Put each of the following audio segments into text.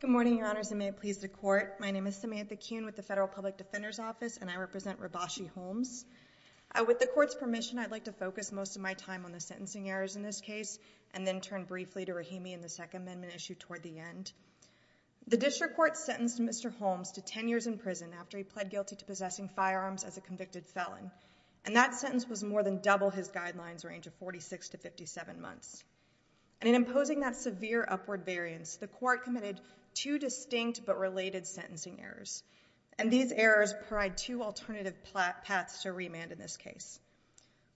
Good morning, Your Honors, and may it please the Court, my name is Samantha Kuhn with the Federal Public Defender's Office, and I represent Rabashi Holmes. With the Court's permission, I'd like to focus most of my time on the sentencing errors in this case, and then turn briefly to Rahimi and the Second Amendment issue toward the end. The District Court sentenced Mr. Holmes to 10 years in prison after he pled guilty to possessing firearms as a convicted felon, and that sentence was more than double his guidelines range of 46 to 57 months. And in imposing that severe upward variance, the Court committed two distinct but related sentencing errors, and these errors provide two alternative paths to remand in this case.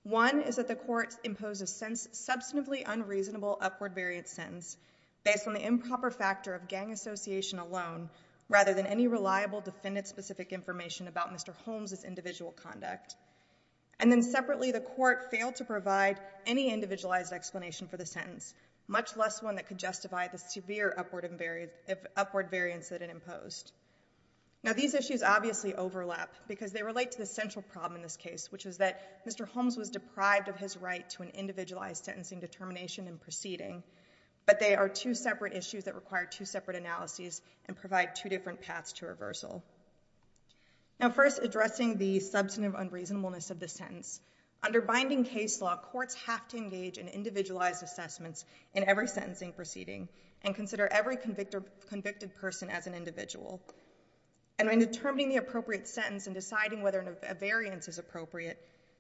One is that the Court imposed a substantively unreasonable upward variance sentence based on the improper factor of gang association alone, rather than any reliable defendant-specific information about Mr. Holmes' individual conduct. And then separately, the Court failed to provide any individualized explanation for the sentence, much less one that could justify the severe upward variance that it imposed. Now these issues obviously overlap, because they relate to the central problem in this case, which is that Mr. Holmes was deprived of his right to an individualized sentencing determination in proceeding, but they are two separate issues that require two separate analyses and provide two different paths to reversal. Now first addressing the substantive unreasonableness of the sentence. Under binding case law, courts have to engage in individualized assessments in every sentencing proceeding and consider every convicted person as an individual. And in determining the appropriate sentence and deciding whether a variance is appropriate,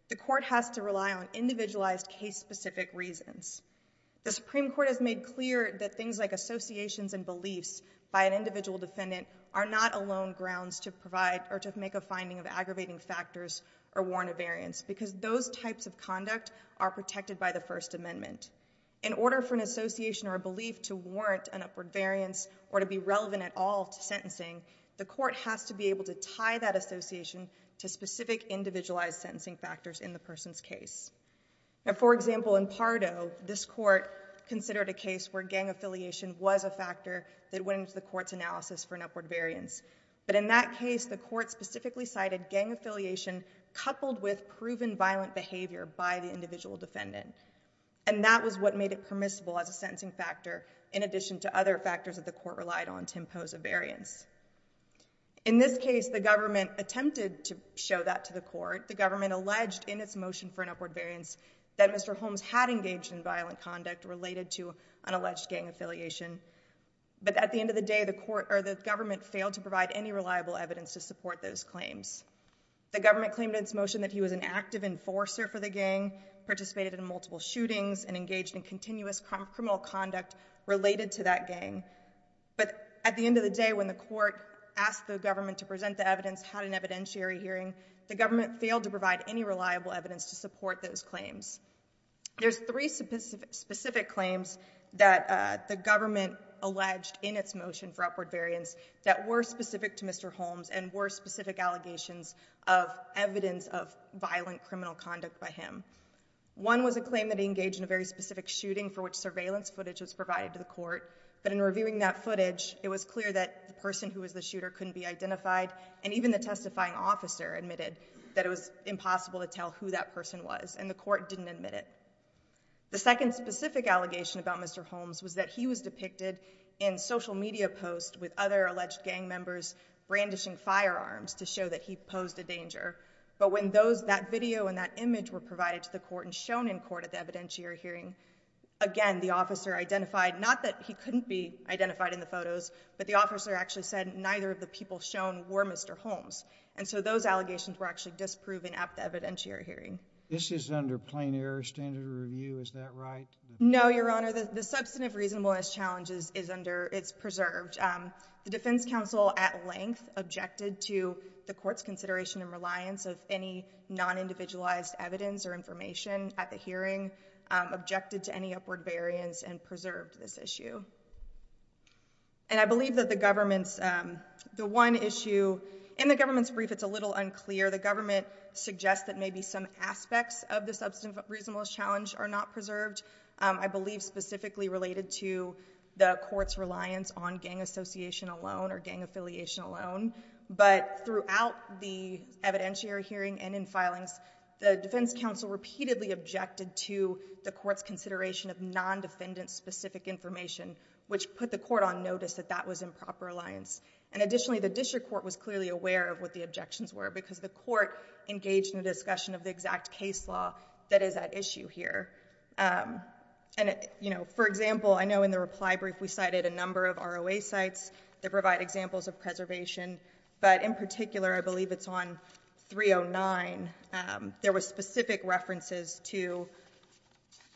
the Court has to rely on individualized case-specific reasons. The Supreme Court has made clear that things like associations and beliefs by an individual defendant are not alone grounds to provide or to make a finding of aggravating factors or warrant a variance, because those types of conduct are protected by the First Amendment. In order for an association or a belief to warrant an upward variance or to be relevant at all to sentencing, the Court has to be able to tie that association to specific individualized sentencing factors in the person's case. For example, in Pardo, this Court considered a case where gang affiliation was a factor that went into the Court's analysis for an upward variance. But in that case, the Court specifically cited gang affiliation coupled with proven violent behavior by the individual defendant. And that was what made it permissible as a sentencing factor, in addition to other factors that the Court relied on to impose a variance. In this case, the government attempted to show that to the Court. The government alleged in its motion for an upward variance that Mr. Holmes had engaged in violent conduct related to an alleged gang affiliation. But at the end of the day, the government failed to provide any reliable evidence to support those claims. The government claimed in its motion that he was an active enforcer for the gang, participated in multiple At the end of the day, when the Court asked the government to present the evidence, had an evidentiary hearing, the government failed to provide any reliable evidence to support those claims. There's three specific claims that the government alleged in its motion for upward variance that were specific to Mr. Holmes and were specific allegations of evidence of violent criminal conduct by him. One was a claim that he engaged in a very specific shooting for which surveillance footage was provided to the Court. But in reviewing that footage, it was clear that the person who was the shooter couldn't be identified, and even the testifying officer admitted that it was impossible to tell who that person was, and the Court didn't admit it. The second specific allegation about Mr. Holmes was that he was depicted in social media posts with other alleged gang members brandishing firearms to show that he posed a danger. But when that video and that image were provided to the Court and shown in court at the evidentiary hearing, again, the officer identified not that he couldn't be identified in the photos, but the officer actually said neither of the people shown were Mr. Holmes. And so those allegations were actually disproven at the evidentiary hearing. This is under plain-error standard of review, is that right? No, Your Honor. The substantive reasonableness challenge is preserved. The Defense Counsel at length objected to the Court's consideration and reliance of any non-individualized evidence or information at the hearing, objected to any upward variance, and preserved this issue. And I believe that the government's—the one issue—in the government's brief, it's a little unclear. The government suggests that maybe some aspects of the substantive reasonableness challenge are not preserved. I believe specifically related to the Court's reliance on gang association alone or gang affiliation alone. But throughout the evidentiary hearing and in filings, the Defense Counsel repeatedly objected to the Court's consideration of non-defendant-specific information, which put the Court on notice that that was improper reliance. And additionally, the District Court was clearly aware of what the objections were because the Court engaged in a discussion of the exact case law that is at issue here. And for example, I know in the reply brief we cited a number of ROA sites that provide examples of preservation, but in particular, I believe it's on 309, there was specific references to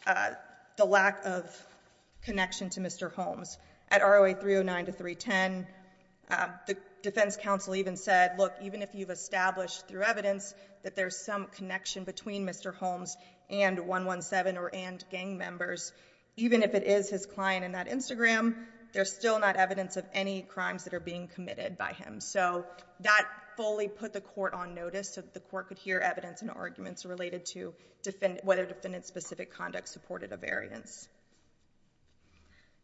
the lack of connection to Mr. Holmes. At ROA 309 to 310, the Defense Counsel even said, look, even if you've established through evidence that there's some connection between Mr. Holmes and 117 or and gang members, even if it is his client in that Instagram, there's still not evidence of any crimes that are being committed by him. So that fully put the Court on notice so that the Court could hear evidence and arguments related to whether defendant-specific conduct supported a variance.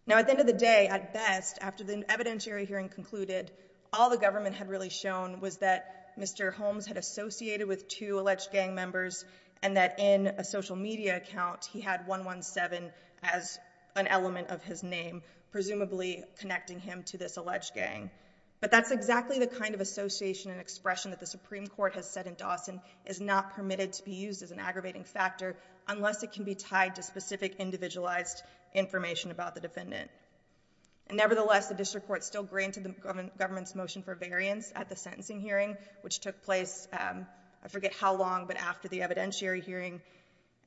Now at the end of the day, at best, after the evidentiary hearing concluded, all the government had really shown was that Mr. Holmes had associated with two alleged gang members and that in a social media account, he had 117 as an element of his name, presumably connecting him to this alleged gang. But that's exactly the kind of association and expression that the Supreme Court has said in Dawson is not permitted to be used as an aggravating factor unless it can be tied to specific individualized information about the defendant. And nevertheless, the District Court still granted the government's motion for variance at the sentencing hearing, which took place, I forget how long, but after the evidentiary hearing.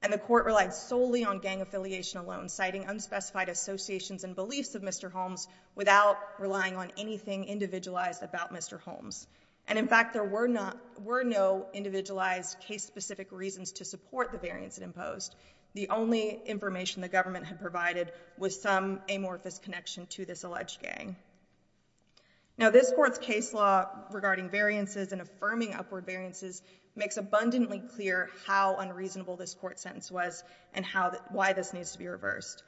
And the Court relied solely on gang affiliation alone, citing unspecified associations and beliefs of Mr. Holmes without relying on anything individualized about Mr. Holmes. And in fact, there were not, were no individualized case-specific reasons to support the variance imposed. The only information the government had provided was some amorphous connection to this alleged gang. Now, this Court's case law regarding variances and affirming upward variances makes abundantly clear how unreasonable this court sentence was and how, why this needs to be reversed.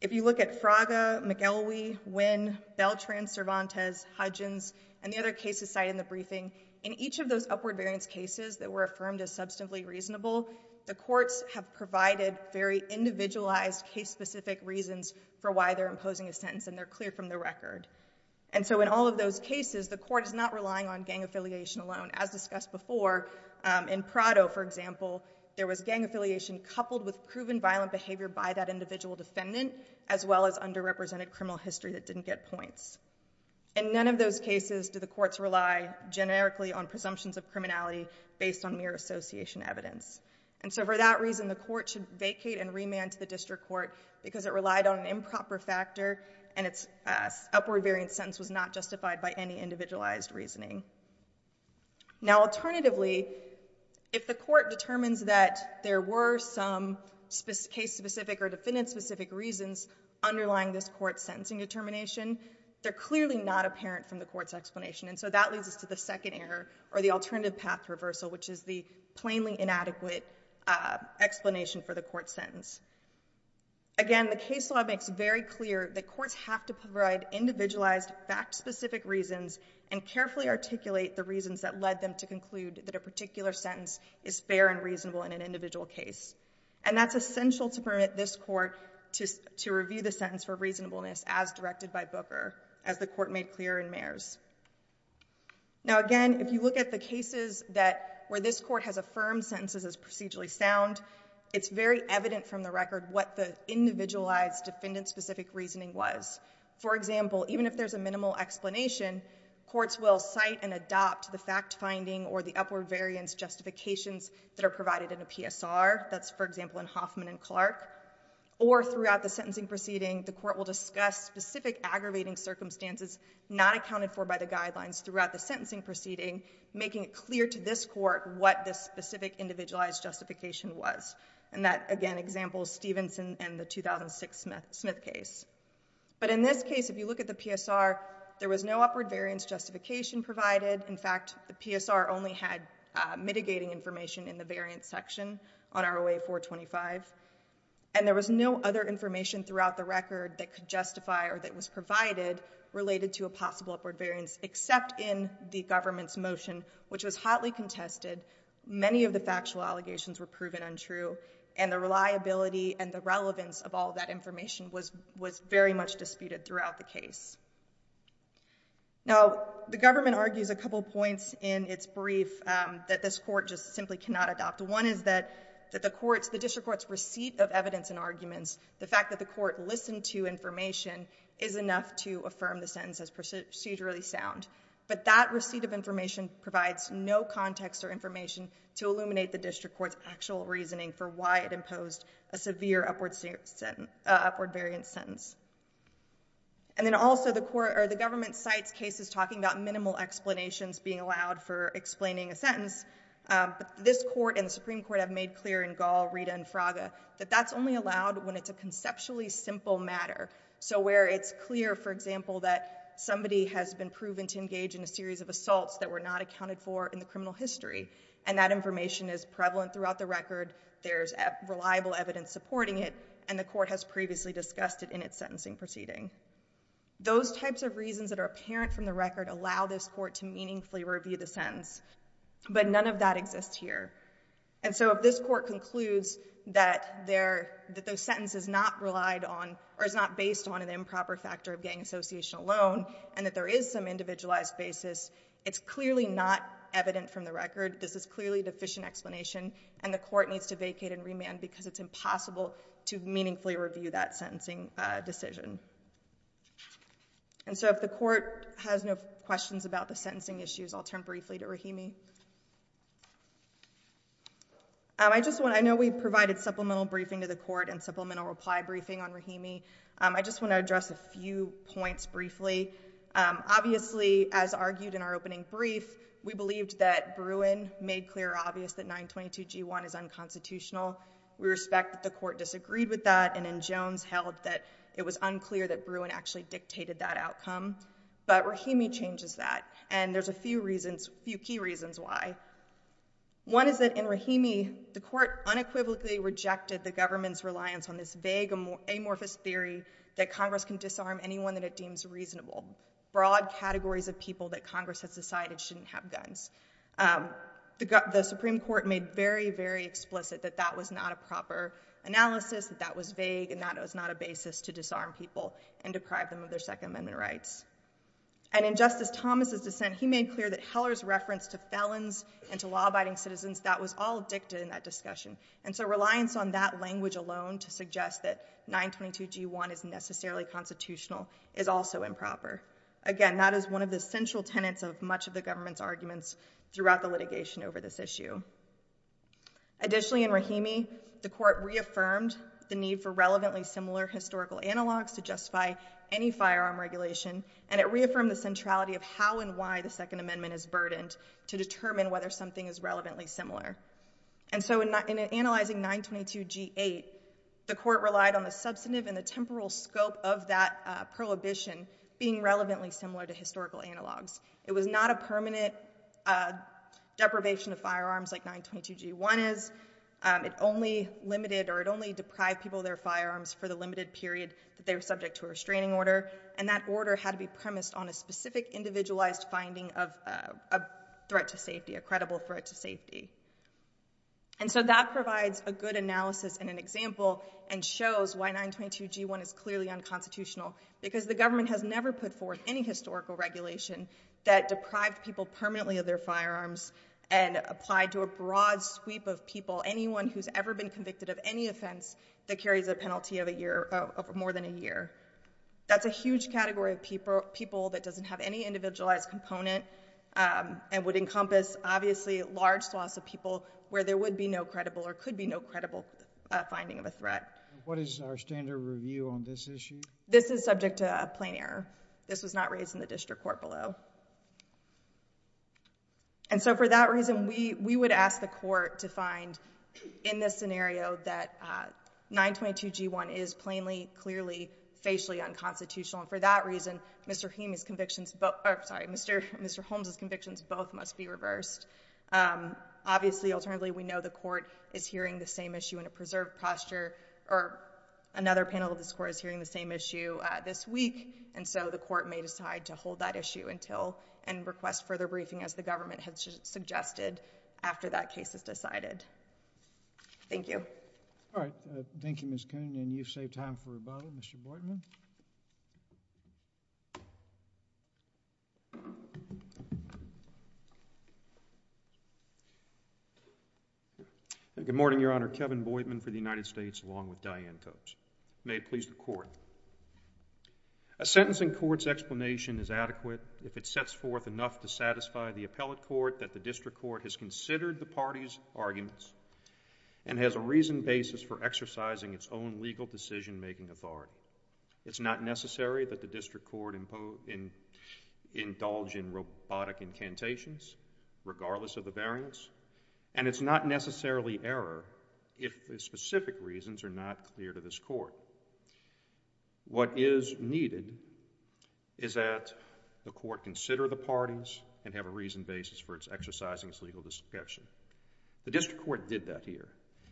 If you look at Fraga, McElwee, Winn, Beltran, Cervantes, Hudgens, and the other cases cited in the briefing, in each of those upward variance cases that were affirmed as substantively reasonable, the courts have provided very individualized case-specific reasons for why they're imposing a sentence and they're clear from the record. And so in all of those cases, the Court is not relying on gang affiliation alone. As discussed before, in Prado, for example, there was gang affiliation coupled with proven violent behavior by that individual defendant, as well as underrepresented criminal history that didn't get points. In none of those cases do the courts rely generically on presumptions of criminality based on mere association evidence. And so for that reason, the Court should vacate and remand to the prosecutor, and its upward variance sentence was not justified by any individualized reasoning. Now alternatively, if the Court determines that there were some case-specific or defendant-specific reasons underlying this Court's sentencing determination, they're clearly not apparent from the Court's explanation. And so that leads us to the second error, or the alternative path reversal, which is the plainly inadequate explanation for the Court's sentence. Again, the case law makes very clear that courts have to provide individualized, fact-specific reasons and carefully articulate the reasons that led them to conclude that a particular sentence is fair and reasonable in an individual case. And that's essential to permit this Court to review the sentence for reasonableness as directed by Booker, as the Court made clear in Mayers. Now again, if you look at the cases where this Court has affirmed sentences as procedurally sound, it's very evident from the record what the individualized, defendant-specific reasoning was. For example, even if there's a minimal explanation, courts will cite and adopt the fact-finding or the upward variance justifications that are provided in a PSR. That's, for example, in Hoffman and Clark. Or throughout the sentencing proceeding, the Court will discuss specific aggravating circumstances not accounted for by the guidelines throughout the sentencing proceeding, making it clear to this Court what the specific individualized justification was. And that, again, examples Stevenson and the 2006 Smith case. But in this case, if you look at the PSR, there was no upward variance justification provided. In fact, the PSR only had mitigating information in the variance section on ROA 425. And there was no other information throughout the record that could justify or that was provided related to a possible upward variance except in the government's motion, which was hotly contested. Many of the factual allegations were proven untrue. And the reliability and the relevance of all that information was very much disputed throughout the case. Now the government argues a couple points in its brief that this Court just simply cannot adopt. One is that the District Court's receipt of evidence and arguments, the fact that the District Court listened to information, is enough to affirm the sentence as procedurally sound. But that receipt of information provides no context or information to illuminate the District Court's actual reasoning for why it imposed a severe upward variance sentence. And then also the government cites cases talking about minimal explanations being allowed for explaining a sentence. But this Court and the Supreme Court have made clear in Gall, a conceptually simple matter. So where it's clear, for example, that somebody has been proven to engage in a series of assaults that were not accounted for in the criminal history, and that information is prevalent throughout the record, there's reliable evidence supporting it, and the Court has previously discussed it in its sentencing proceeding. Those types of reasons that are apparent from the record allow this Court to meaningfully review the sentence. But none of that exists here. And so if this Court concludes that the sentence is not relied on, or is not based on an improper factor of gang association alone, and that there is some individualized basis, it's clearly not evident from the record. This is clearly a deficient explanation, and the Court needs to vacate and remand because it's impossible to meaningfully review that sentencing decision. And so if the Court has no questions about the sentencing issues, I'll turn briefly to Rahimi. I know we provided supplemental briefing to the Court and supplemental reply briefing on Rahimi. I just want to address a few points briefly. Obviously, as argued in our opening brief, we believed that Bruin made clear or obvious that 922G1 is unconstitutional. We respect that the Court disagreed with that, and in Jones held that it was unclear that Bruin actually dictated that outcome. But Rahimi changes that, and there's a few reasons, a few key reasons why. One is that in Rahimi, the Court unequivocally rejected the government's reliance on this vague, amorphous theory that Congress can disarm anyone that it deems reasonable, broad categories of people that Congress has decided shouldn't have guns. The Supreme Court made very, very explicit that that was not a proper analysis, that that was vague, and that it was not a basis to disarm people and deprive them of their Second Amendment rights. And in Justice Thomas' dissent, he made clear that Heller's reference to felons and to law-abiding citizens, that was all dictated in that discussion. And so reliance on that language alone to suggest that 922G1 is necessarily constitutional is also improper. Again, that is one of the central tenets of much of the government's arguments throughout the litigation over this issue. Additionally, in Rahimi, the Court reaffirmed the need for relevantly similar historical analogs to justify any firearm regulation, and it reaffirmed the centrality of how and why the Second Amendment is burdened to determine whether something is relevantly similar. And so in analyzing 922G8, the Court relied on the substantive and the temporal scope of that prohibition being relevantly similar to historical analogs. It was not a permanent deprivation of firearms like 922G1 is. It only limited or it only deprived people of their firearms for the limited period that they were subject to a restraining order, and that order had to be premised on a specific individualized finding of a threat to safety, a credible threat to safety. And so that provides a good analysis and an example and shows why 922G1 is clearly unconstitutional, because the government has never put forth any historical regulation that deprived people permanently of their firearms and applied to a broad sweep of people, anyone who's ever been convicted of any offense that carries a penalty of more than a year. That's a huge category of people that doesn't have any individualized component and would encompass, obviously, large swaths of people where there would be no credible or could be no credible finding of a threat. What is our standard review on this issue? This is subject to a plain error. This was not raised in the District Court below. And so for that reason, we would ask the court to find in this scenario that 922G1 is plainly, clearly, facially unconstitutional. And for that reason, Mr. Holmes's convictions both must be reversed. Obviously, alternatively, we know the court is hearing the same issue in a preserved posture, or another panel of the court is hearing the same issue this week, and so the court may decide to hold that issue until and request further briefing as the government has suggested after that case is decided. Thank you. All right. Thank you, Ms. Kuhn. And you've saved time for rebuttal, Mr. Boydman. Good morning, Your Honor. Kevin Boydman for the United States along with Diane Coates. May it please the Court. A sentence in court's explanation is adequate if it sets forth enough to satisfy the appellate court that the District Court has considered the parties' arguments and has a reasoned basis for exercising its own legal decision-making authority. It's not necessary that the District Court indulge in robotic incantations, regardless of the variance, and it's not necessarily error if the specific reasons are not clear to this court. What is needed is that the parties have a reasoned basis for exercising its legal discretion. The District Court did that here,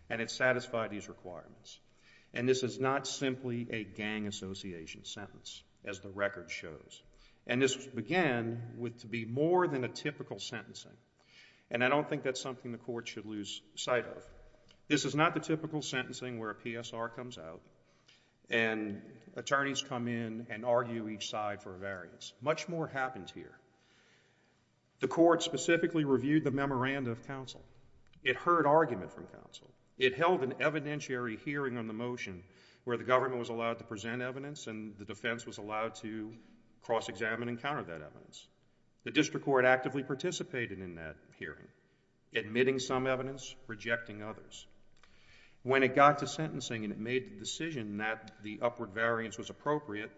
and it satisfied these requirements. And this is not simply a gang association sentence, as the record shows. And this began with to be more than a typical sentencing, and I don't think that's something the court should lose sight of. This is not the typical sentencing where a PSR comes out and attorneys come in and argue each side for a variance. Much more happens here. The court specifically reviewed the memoranda of counsel. It heard argument from counsel. It held an evidentiary hearing on the motion where the government was allowed to present evidence and the defense was allowed to cross-examine and counter that evidence. The District Court actively participated in that hearing, admitting some evidence, rejecting others. When it got to sentencing and it made the decision that the upward variance was appropriate,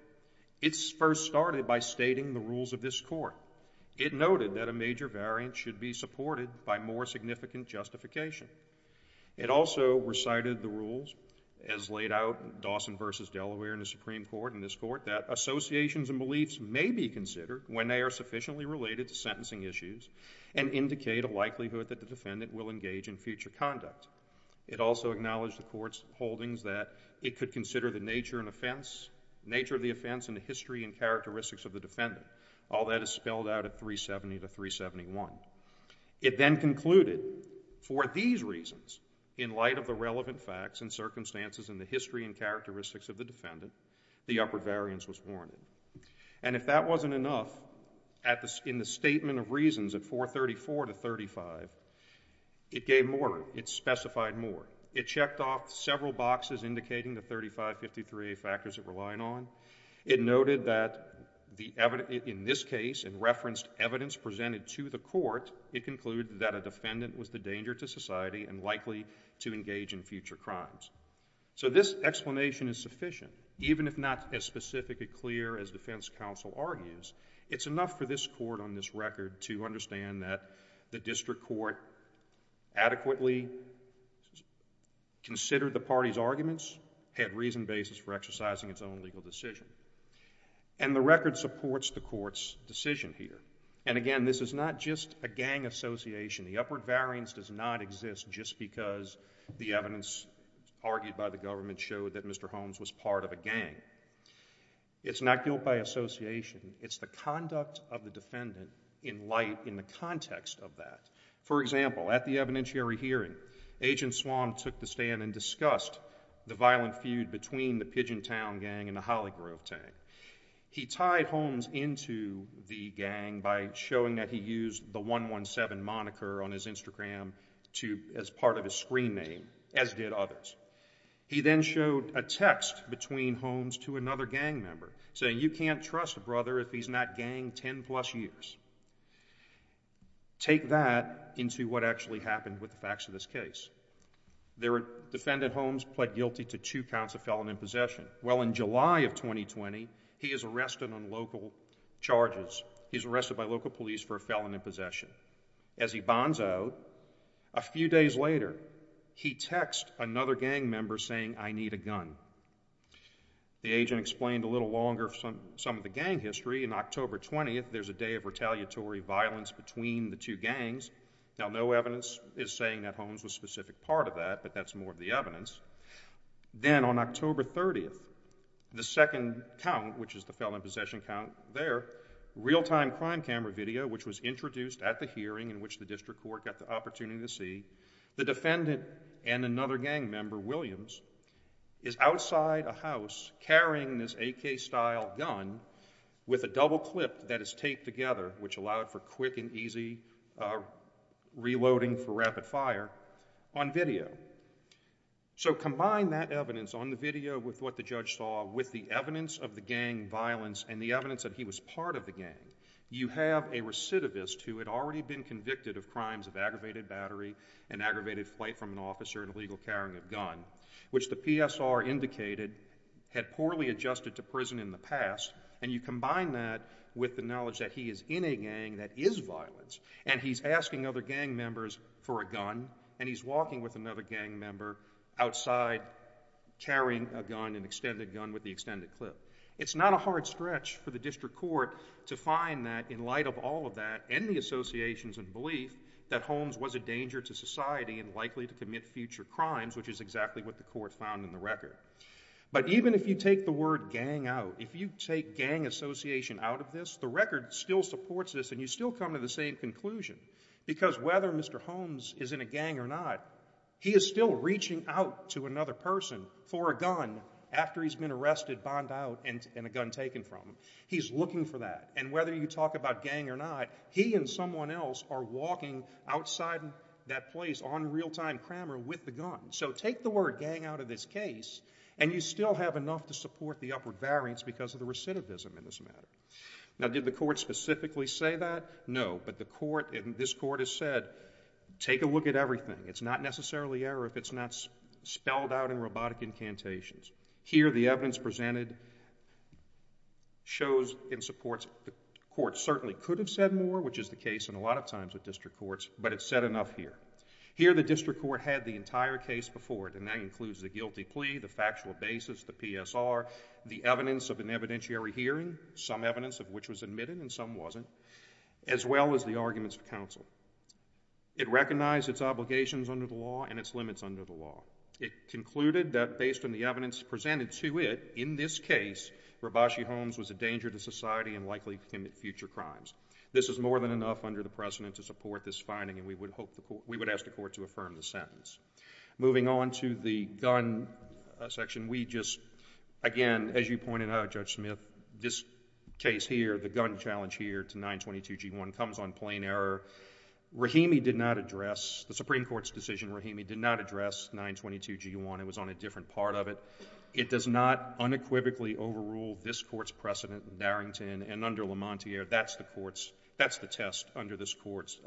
it first started by stating the rules of this court. It noted that a major variance should be supported by more significant justification. It also recited the rules, as laid out in Dawson v. Delaware in the Supreme Court in this court, that associations and beliefs may be considered when they are sufficiently related to sentencing issues and indicate a likelihood that the defendant will engage in future conduct. It also acknowledged the court's holdings that it could consider the nature of the offense and the history and characteristics of the defendant. All that is spelled out at 370 to 371. It then concluded, for these reasons, in light of the relevant facts and circumstances and the history and characteristics of the defendant, the upper variance was warranted. And if that wasn't enough, in the statement of reasons at 434 to 35, it gave more. It specified more. It checked off several boxes indicating the 3553A factors it was relying on. It noted that in this case, in reference to evidence presented to the court, it concluded that a defendant was the danger to society and likely to engage in future crimes. So this explanation is sufficient. Even if not as specific and clear as defense counsel argues, it's enough for this court on this record to understand that the district court adequately considered the party's arguments, had reason basis for exercising its own legal decision. And the record supports the court's decision here. And again, this is not just a gang association. The upper variance does not exist just because the evidence argued by the government showed that Mr. Holmes was part of a gang. It's not guilt by association. It's the conduct of the district. Agent Swann took the stand and discussed the violent feud between the Pigeon Town gang and the Hollygrove gang. He tied Holmes into the gang by showing that he used the 117 moniker on his Instagram as part of his screen name, as did others. He then showed a text between Holmes to another gang member saying, you can't trust a brother if he's been in that gang 10 plus years. Take that into what actually happened with the facts of this case. The defendant, Holmes, pled guilty to two counts of felon in possession. Well in July of 2020, he is arrested on local charges. He's arrested by local police for a felon in possession. As he bonds out, a few days later, he texts another gang member saying I need a gun. The agent explained a little longer some of the gang history and on October 20th, there's a day of retaliatory violence between the two gangs. Now no evidence is saying that Holmes was a specific part of that, but that's more of the evidence. Then on October 30th, the second count, which is the felon in possession count there, real time crime camera video, which was introduced at the hearing in which the district court got the opportunity to see, the defendant and another gang member, Williams, is outside a house carrying this AK style gun with a double clip that is taped together, which allowed for quick and easy reloading for rapid fire on video. So combine that evidence on the video with what the judge saw with the evidence of the gang violence and the evidence that he was part of the gang, you have a recidivist who had already been convicted of crimes of aggravated battery and aggravated flight from an officer and illegal carrying of gun, which the PSR indicated had poorly adjusted to prison in the past, and you combine that with the knowledge that he is in a gang that is violence and he's asking other gang members for a gun and he's walking with another gang member outside carrying a gun, an extended gun with the extended clip. It's not a hard stretch for the district court to find that in light of all of that and the associations and belief that Holmes was a danger to society and likely to commit future crimes, which is exactly what the court found in the record. But even if you take the word gang out, if you take gang association out of this, the record still supports this and you still come to the same conclusion. Because whether Mr. Holmes is in a gang or not, he is still reaching out to another person for a gun after he's been arrested, bound out, and a gun taken from him. He's looking for that. And whether you talk about gang or not, he and someone else are walking outside that place on real-time crammer with the gun. So take the word gang out of this case and you still have enough to support the upper variance because of the recidivism in this matter. Now did the court specifically say that? No. But the court, and this court has said, take a look at everything. It's not necessarily error if it's not spelled out in robotic incantations. Here the evidence presented shows and supports the court certainly could have said more, which is the case in a lot of times with district courts, but it's said enough here. Here the district court had the entire case before it, and that includes the guilty plea, the factual basis, the PSR, the evidence of an evidentiary hearing, some evidence of which was admitted and some wasn't, as well as the arguments of counsel. It recognized its obligations under the law and its limits under the law. It concluded that based on the evidence presented to it, in this case, Rabashi Holmes was a danger to society and likely to commit future crimes. This is more than enough under the precedent to support this finding, and we would hope the court, we would ask the court to affirm the sentence. Moving on to the gun section, we just, again, as you pointed out, Judge Smith, this case here, the gun challenge here to 922G1 comes on plain error. Rahimi did not address the Supreme Court's decision. Rahimi did not address 922G1. It was on a different part of it. It does not unequivocally overrule this court's precedent in Darrington and under LeMontier. That's the test under this court's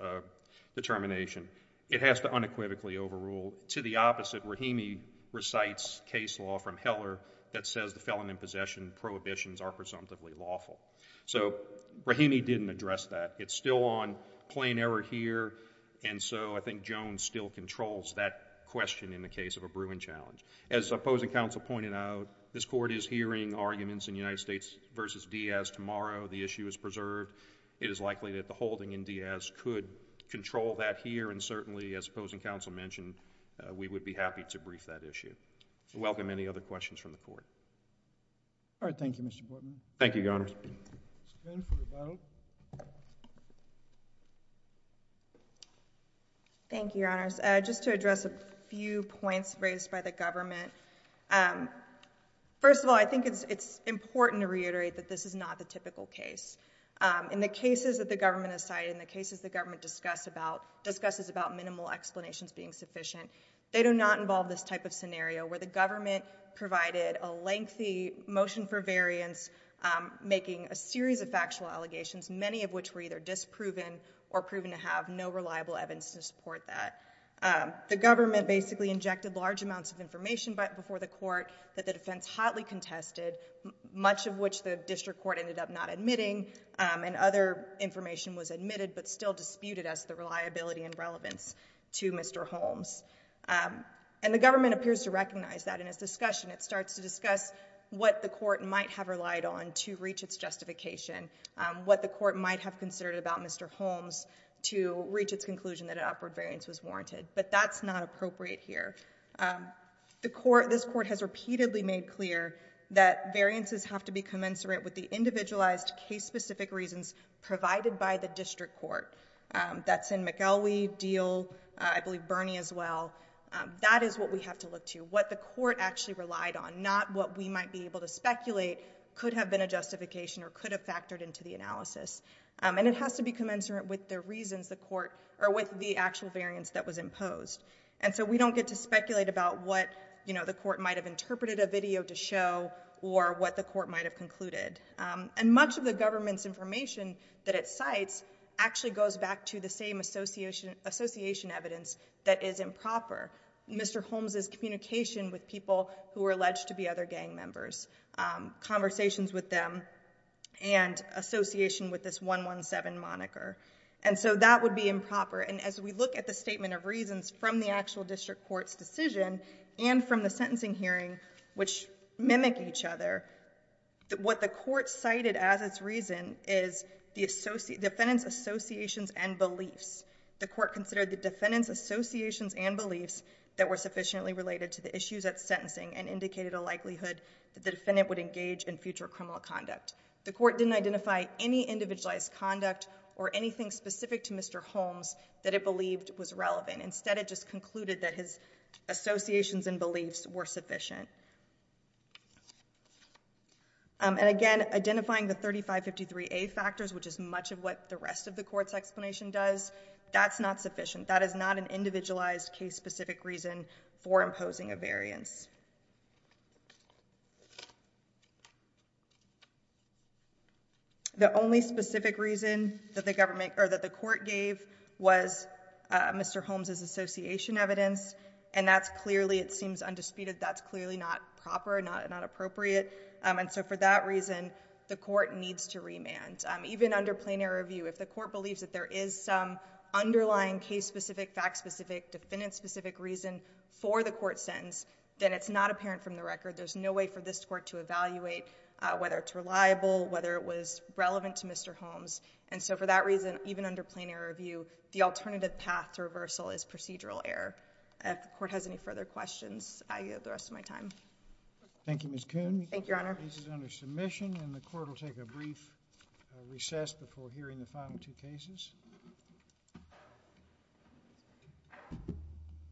determination. It has to unequivocally overrule. To the opposite, Rahimi recites case law from Heller that says the felon in possession prohibitions are presumptively lawful. So Rahimi didn't address that. It's still on plain error here, and so I think Jones still controls that question in the case of a Bruin challenge. As Opposing Counsel pointed out, this Court is hearing arguments in United States v. Diaz tomorrow. The issue is preserved. It is likely that the holding in Diaz could control that here and certainly, as Opposing Counsel mentioned, we would be happy to brief that issue. I welcome any other questions from the Court. All right. Thank you, Mr. Bortman. Thank you, Your Honors. Ms. Benford, I hope. Thank you, Your Honors. Just to address a few points raised by the government. First of all, I think it's important to reiterate that this is not the typical case. In the cases that the government has cited, in the cases the government discusses about minimal explanations being sufficient, they do not involve this type of scenario where the government provided a lengthy motion for variance making a series of factual allegations, many of which were either disproven or proven to have no reliable evidence to support that. The government basically injected large amounts of information before the Court that the defense hotly contested, much of which the district court ended up not admitting, and other information was admitted but still disputed as the reliability and relevance to Mr. Holmes. And the government appears to recognize that in its discussion. It starts to discuss what the Court might have relied on to reach its justification, what the Court might have considered about Mr. Holmes to reach its conclusion that an upward variance was warranted. But that's not appropriate here. The Court, this Court has repeatedly made clear that variances have to be commensurate with the individualized case-specific reasons provided by the district court. That's in McElwee, Deal, I believe Bernie as well. That is what we have to look to, what the Court actually relied on, not what we might be able to speculate could have been a justification or could have factored into the analysis. And it has to be commensurate with the reasons the Court, or with the actual variance that was imposed. And so we don't get to speculate about what, you know, the Court might have interpreted a video to show or what the Court might have concluded. And much of the government's information that it cites actually goes back to the same association evidence that is improper. Mr. Holmes' communication with people who are alleged to be other gang members, conversations with them, and association with this 117 moniker. And so that would be improper. And as we look at the statement of reasons from the actual district court's decision and from the sentencing hearing, which mimic each other, what the Court cited as its reason is the defendant's associations and beliefs. The Court considered the defendant's associations and beliefs that were sufficiently related to the issues at sentencing and indicated a likelihood that the defendant would engage in future criminal conduct. The Court didn't identify any individualized conduct or anything specific to Mr. Holmes that it believed was relevant. Instead, it just concluded that his associations and beliefs were sufficient. And again, identifying the 3553A factors, which is much of what the rest of the Court's explanation does, that's not sufficient. That is not an individualized case-specific reason for imposing a variance. The only specific reason that the government or that the Court gave was Mr. Holmes' association evidence. And that's clearly, it seems undisputed, that's clearly not proper, not appropriate. And so for that reason, the Court needs to remand. Even under plain-error review, if the Court believes that there is some underlying case-specific, fact-specific, defendant-specific reason for the Court's sentence, then it's not apparent from the record. There's no way for this Court to evaluate whether it's reliable, whether it was relevant to Mr. Holmes. And so for that reason, even under plain-error review, the alternative path to reversal is procedural error. If the Court has any further questions, I have the rest of my time. Thank you, Ms. Kuhn. Thank you, Your Honor. This is under submission, and the Court will take a brief recess before hearing the final two cases.